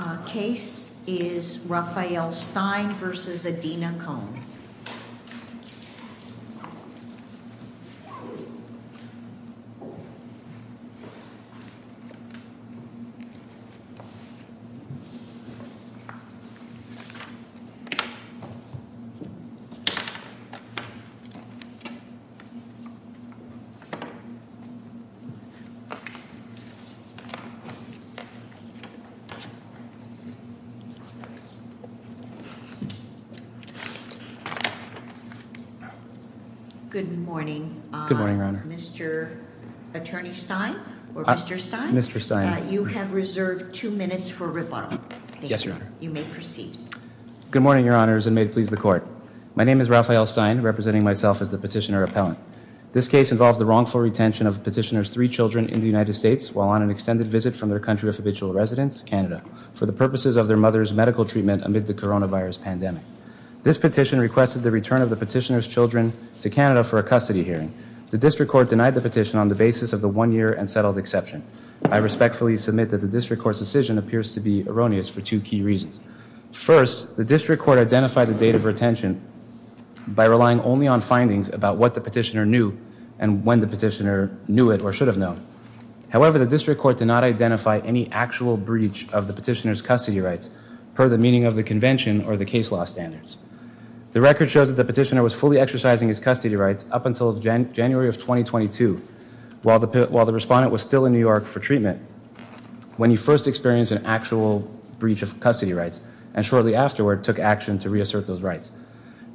The second case is Raphael Stein v. Adena Kohn Good morning, Mr. Attorney Stein. You have reserved two minutes for rebuttal. Yes, Your Honor. You may proceed. Good morning, Your Honors, and may it please the Court. My name is Raphael Stein, representing myself as the petitioner appellant. This case involves the wrongful retention of a petitioner's three children in the United States while on an extended visit from their country of habitual residence, Canada, for the purposes of their mother's medical treatment amid the coronavirus pandemic. This petition requested the return of the petitioner's children to Canada for a custody hearing. The District Court denied the petition on the basis of the one-year and settled exception. I respectfully submit that the District Court's decision appears to be erroneous for two key reasons. First, the District Court identified the date of retention by relying only on findings about what the petitioner knew and when the petitioner knew it or should have known. However, the District Court did not identify any actual breach of the petitioner's custody rights per the meaning of the convention or the case law standards. The record shows that the petitioner was fully exercising his custody rights up until January of 2022, while the respondent was still in New York for treatment, when he first experienced an actual breach of custody rights and shortly afterward took action to reassert those rights.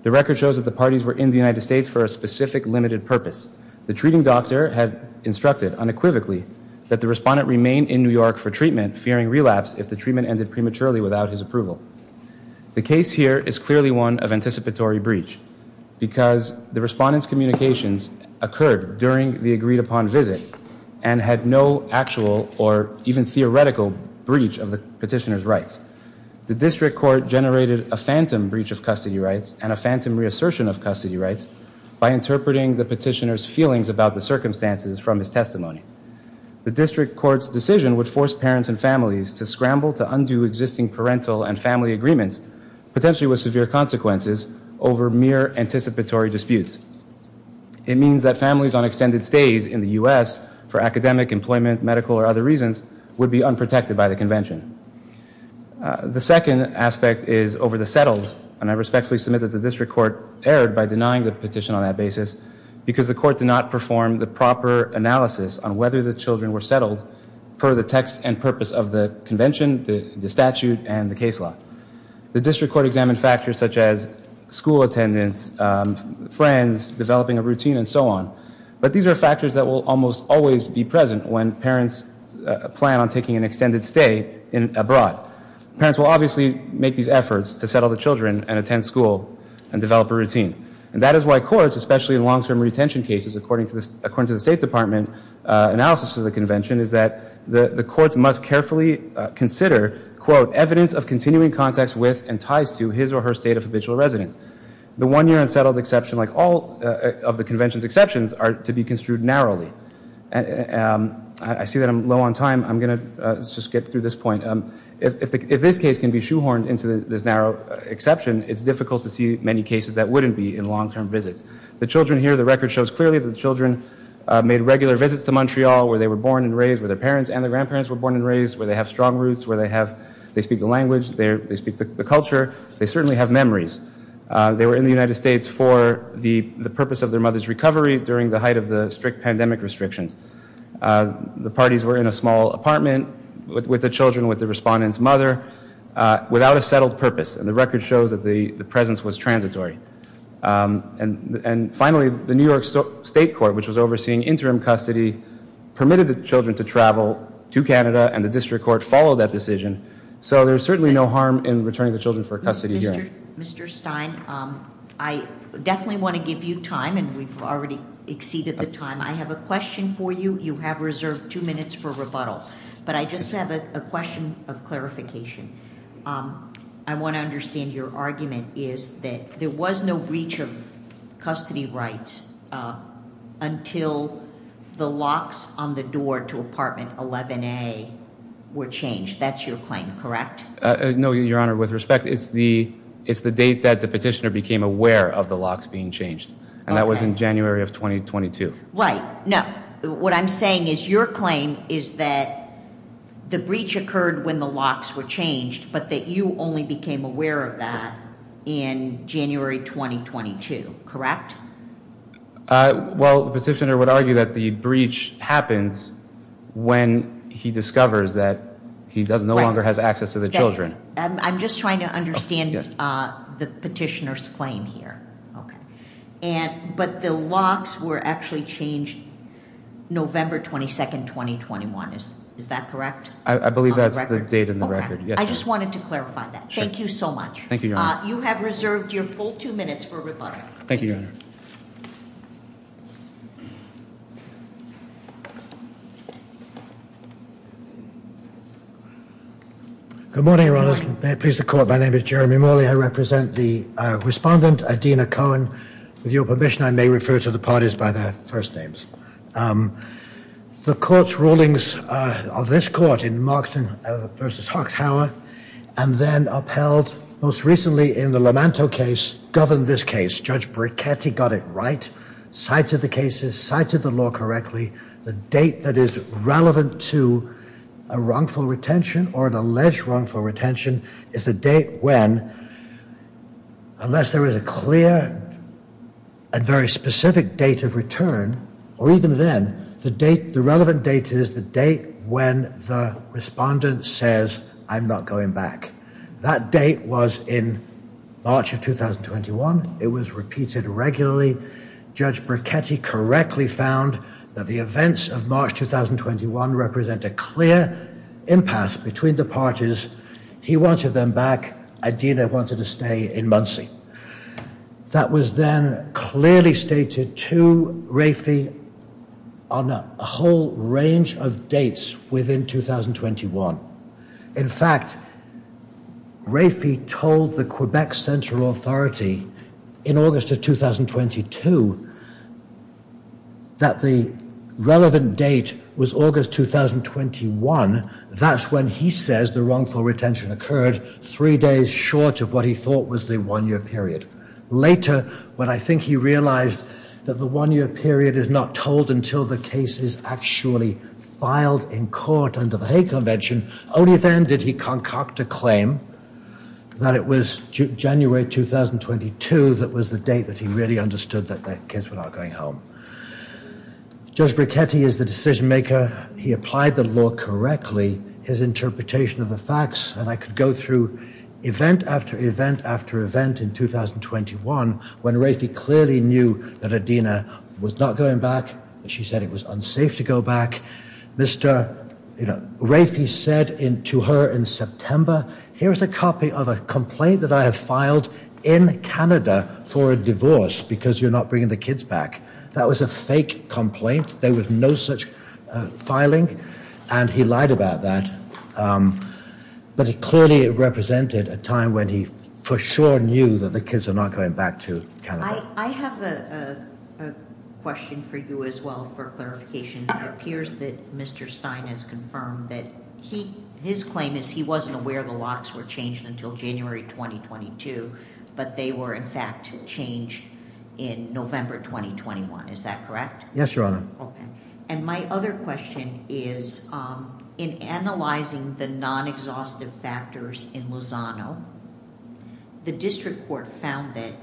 The record shows that the parties were in the United States for a specific, limited purpose. The treating doctor had instructed unequivocally that the respondent remain in New York for treatment, fearing relapse if the treatment ended prematurely without his approval. The case here is clearly one of anticipatory breach because the respondent's communications occurred during the agreed-upon visit and had no actual or even theoretical breach of the petitioner's rights. The District Court generated a phantom breach of custody rights and a phantom reassertion of custody rights by interpreting the petitioner's feelings about the circumstances from his testimony. The District Court's decision would force parents and families to scramble to undo existing parental and family agreements, potentially with severe consequences, over mere anticipatory disputes. It means that families on extended stays in the U.S. for academic, employment, medical, or other reasons would be unprotected by the convention. The second aspect is over the settles, and I respectfully submit that the District Court erred by denying the petition on that basis because the Court did not perform the proper analysis on whether the children were settled per the text and purpose of the convention, the statute, and the case law. The District Court examined factors such as school attendance, friends, developing a routine, and so on, but these are factors that will almost always be present when parents plan on taking an extended stay abroad. Parents will obviously make these efforts to settle the children and attend school and develop a routine. And that is why courts, especially in long-term retention cases, according to the State Department analysis of the convention, is that the courts must carefully consider, quote, evidence of continuing contacts with and ties to his or her state of habitual residence. The one-year unsettled exception, like all of the convention's exceptions, are to be construed narrowly. I see that I'm low on time. I'm going to just get through this point. If this case can be shoehorned into this narrow exception, it's difficult to see many cases that wouldn't be in long-term visits. The children here, the record shows clearly that the children made regular visits to Montreal where they were born and raised, where their parents and their grandparents were born and raised, where they have strong roots, where they speak the language, they speak the culture. They certainly have memories. They were in the United States for the purpose of their mother's recovery during the height of the strict pandemic restrictions. The parties were in a small apartment with the children, with the respondent's mother, without a settled purpose, and the record shows that the presence was transitory. And finally, the New York State Court, which was overseeing interim custody, permitted the children to travel to Canada, and the district court followed that decision. So there's certainly no harm in returning the children for a custody hearing. Mr. Stein, I definitely want to give you time, and we've already exceeded the time. I have a question for you. You have reserved two minutes for rebuttal, but I just have a question of clarification. I want to understand your argument is that there was no breach of custody rights until the locks on the door to apartment 11A were changed. That's your claim, correct? No, Your Honor. With respect, it's the date that the petitioner became aware of the locks being changed, and that was in January of 2022. Right. Now, what I'm saying is your claim is that the breach occurred when the locks were changed, but that you only became aware of that in January 2022, correct? Well, the petitioner would argue that the breach happens when he discovers that he no longer has access to the children. I'm just trying to understand the petitioner's claim here. But the locks were actually changed November 22, 2021. Is that correct? I believe that's the date in the record. I just wanted to clarify that. Thank you so much. Thank you, Your Honor. You have reserved your full two minutes for rebuttal. Thank you, Your Honor. Good morning, Your Honors. May it please the Court, my name is Jeremy Morley. I represent the respondent, Idina Cohen. With your permission, I may refer to the parties by their first names. The Court's rulings of this Court in Markson v. Hochtauer, and then upheld most recently in the Lamanto case, governed this case. Judge Bricchetti got it right, cited the cases, cited the law correctly. The date that is relevant to a wrongful retention or an alleged wrongful retention is the date when, unless there is a clear and very specific date of return, or even then, the relevant date is the date when the respondent says, I'm not going back. That date was in March of 2021. It was repeated regularly. Judge Bricchetti correctly found that the events of March 2021 represent a clear impasse between the parties. He wanted them back. Idina wanted to stay in Muncie. That was then clearly stated to Rafi on a whole range of dates within 2021. In fact, Rafi told the Quebec Central Authority in August of 2022 that the relevant date was August 2021. That's when he says the wrongful retention occurred, three days short of what he thought was the one-year period. Later, when I think he realized that the one-year period is not told until the case is actually filed in court under the Hague Convention, only then did he concoct a claim that it was January 2022 that was the date that he really understood that the kids were not going home. Judge Bricchetti is the decision-maker. He applied the law correctly. His interpretation of the facts, and I could go through event after event after event in 2021 when Rafi clearly knew that Idina was not going back. She said it was unsafe to go back. Rafi said to her in September, here's a copy of a complaint that I have filed in Canada for a divorce because you're not bringing the kids back. That was a fake complaint. There was no such filing, and he lied about that. But it clearly represented a time when he for sure knew that the kids were not going back to Canada. I have a question for you as well for clarification. It appears that Mr. Stein has confirmed that his claim is he wasn't aware the locks were changed until January 2022, but they were in fact changed in November 2021. Is that correct? Yes, Your Honor. Okay. And my other question is in analyzing the non-exhaustive factors in Lozano, the district court found that,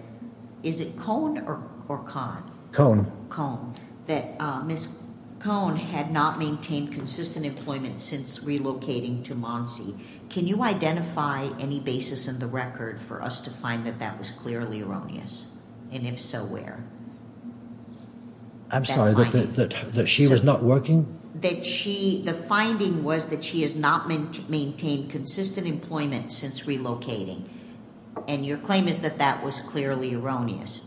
is it Cohn or Cahn? Cohn, that Ms. Cohn had not maintained consistent employment since relocating to Monsey. Can you identify any basis in the record for us to find that that was clearly erroneous, and if so, where? I'm sorry, that she was not working? The finding was that she has not maintained consistent employment since relocating, and your claim is that that was clearly erroneous.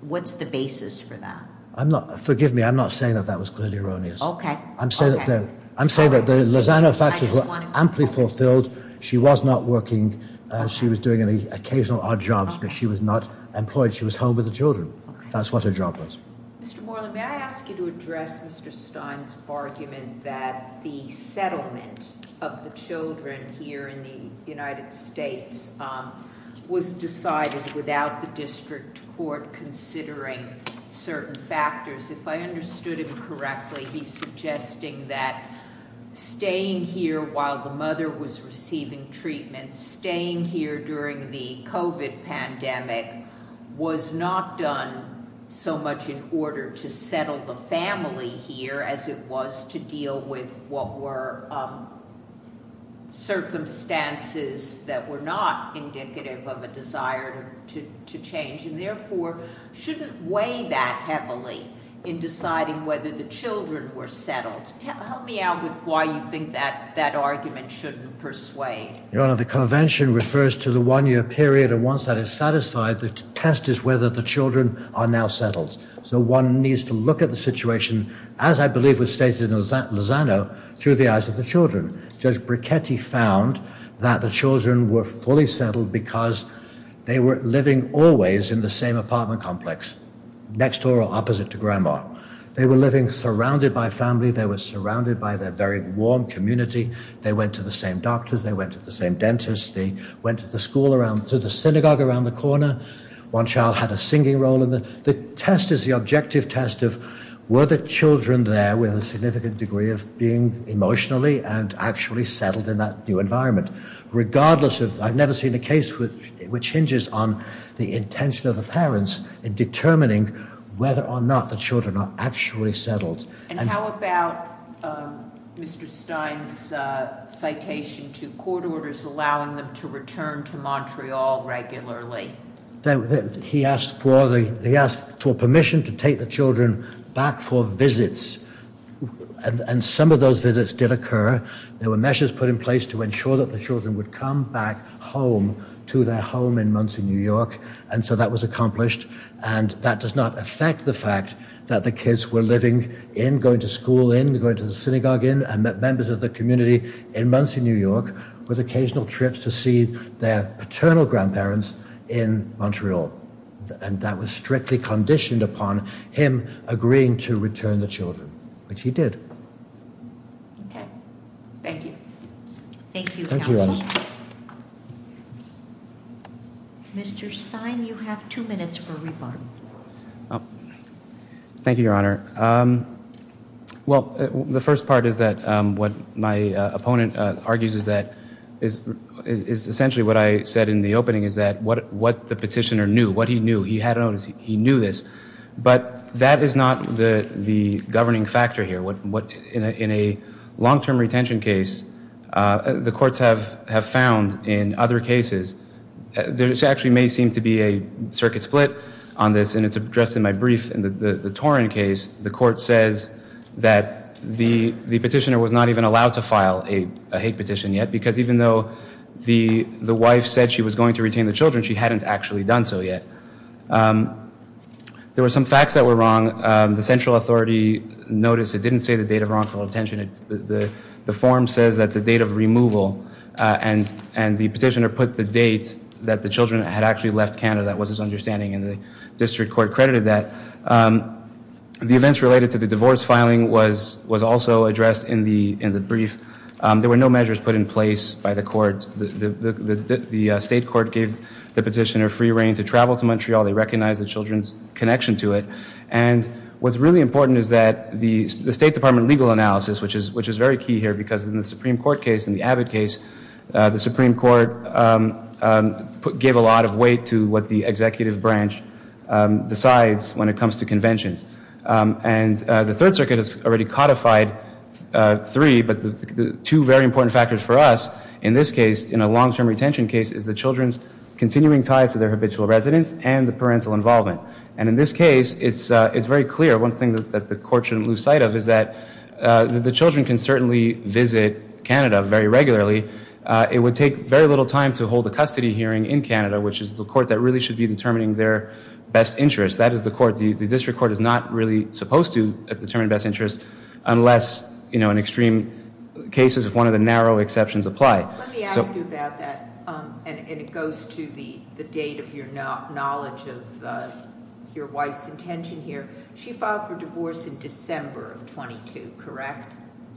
What's the basis for that? Forgive me. I'm not saying that that was clearly erroneous. Okay. I'm saying that the Lozano factors were amply fulfilled. She was not working. She was doing occasional odd jobs, but she was not employed. She was home with the children. That's what her job was. Mr. Moreland, may I ask you to address Mr. Stein's argument that the settlement of the children here in the United States was decided without the district court considering certain factors? If I understood him correctly, he's suggesting that staying here while the mother was receiving treatment, and staying here during the COVID pandemic, was not done so much in order to settle the family here as it was to deal with what were circumstances that were not indicative of a desire to change, and therefore shouldn't weigh that heavily in deciding whether the children were settled. Help me out with why you think that argument shouldn't persuade. Your Honor, the convention refers to the one-year period, and once that is satisfied, the test is whether the children are now settled. So one needs to look at the situation, as I believe was stated in Lozano, through the eyes of the children. Judge Brichetti found that the children were fully settled because they were living always in the same apartment complex, next door or opposite to Grandma. They were living surrounded by family. They were surrounded by their very warm community. They went to the same doctors. They went to the same dentists. They went to the synagogue around the corner. One child had a singing role. The test is the objective test of were the children there with a significant degree of being emotionally and actually settled in that new environment. I've never seen a case which hinges on the intention of the parents in determining whether or not the children are actually settled. And how about Mr. Stein's citation to court orders allowing them to return to Montreal regularly? He asked for permission to take the children back for visits, and some of those visits did occur. There were measures put in place to ensure that the children would come back home to their home in Muncie, New York, and so that was accomplished, and that does not affect the fact that the kids were living in, going to school in, going to the synagogue in, and met members of the community in Muncie, New York, with occasional trips to see their paternal grandparents in Montreal. And that was strictly conditioned upon him agreeing to return the children, which he did. Okay. Thank you. Thank you, counsel. Thank you, Alice. Mr. Stein, you have two minutes for rebuttal. Thank you, Your Honor. Well, the first part is that what my opponent argues is that is essentially what I said in the opening, is that what the petitioner knew, what he knew, he had an onus, he knew this, but that is not the governing factor here. In a long-term retention case, the courts have found in other cases, there actually may seem to be a circuit split on this, and it's addressed in my brief. In the Torrin case, the court says that the petitioner was not even allowed to file a hate petition yet, because even though the wife said she was going to retain the children, she hadn't actually done so yet. There were some facts that were wrong. The central authority noticed it didn't say the date of wrongful detention. The form says that the date of removal, and the petitioner put the date that the children had actually left Canada. That was his understanding, and the district court credited that. The events related to the divorce filing was also addressed in the brief. There were no measures put in place by the court. The state court gave the petitioner free reign to travel to Montreal. They recognized the children's connection to it, and what's really important is that the State Department legal analysis, which is very key here, because in the Supreme Court case, in the Abbott case, the Supreme Court gave a lot of weight to what the executive branch decides when it comes to conventions. The Third Circuit has already codified three, but the two very important factors for us in this case, in a long-term retention case, is the children's continuing ties to their habitual residence and the parental involvement. In this case, it's very clear. One thing that the court shouldn't lose sight of is that the children can certainly visit Canada very regularly. It would take very little time to hold a custody hearing in Canada, which is the court that really should be determining their best interests. That is the court. The district court is not really supposed to determine best interests unless, you know, in extreme cases, if one of the narrow exceptions apply. Let me ask you about that, and it goes to the date of your knowledge of your wife's intention here. She filed for divorce in December of 22, correct?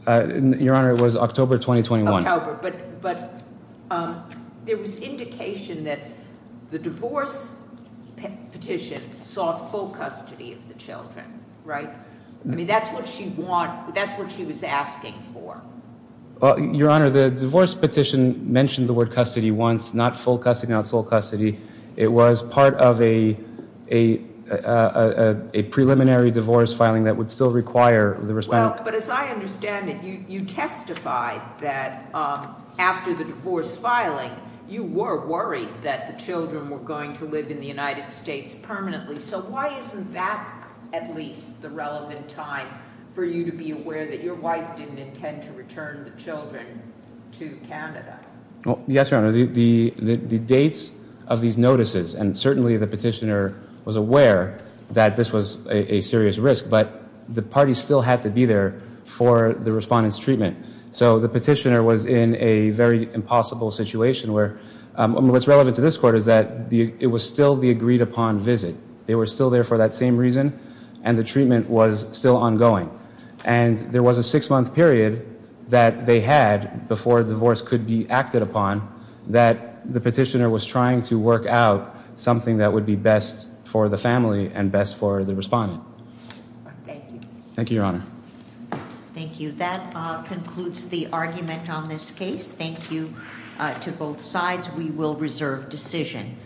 Your Honor, it was October 2021. But there was indication that the divorce petition sought full custody of the children, right? I mean, that's what she was asking for. Your Honor, the divorce petition mentioned the word custody once, not full custody, not sole custody. It was part of a preliminary divorce filing that would still require the response. Well, but as I understand it, you testified that after the divorce filing, you were worried that the children were going to live in the United States permanently. So why isn't that at least the relevant time for you to be aware that your wife didn't intend to return the children to Canada? Yes, Your Honor. The dates of these notices, and certainly the petitioner was aware that this was a serious risk, but the parties still had to be there for the respondent's treatment. So the petitioner was in a very impossible situation where what's relevant to this Court is that it was still the agreed-upon visit. They were still there for that same reason, and the treatment was still ongoing. And there was a six-month period that they had before a divorce could be acted upon that the petitioner was trying to work out something that would be best for the family and best for the respondent. Thank you. Thank you, Your Honor. Thank you. That concludes the argument on this case. Thank you to both sides. We will reserve decision.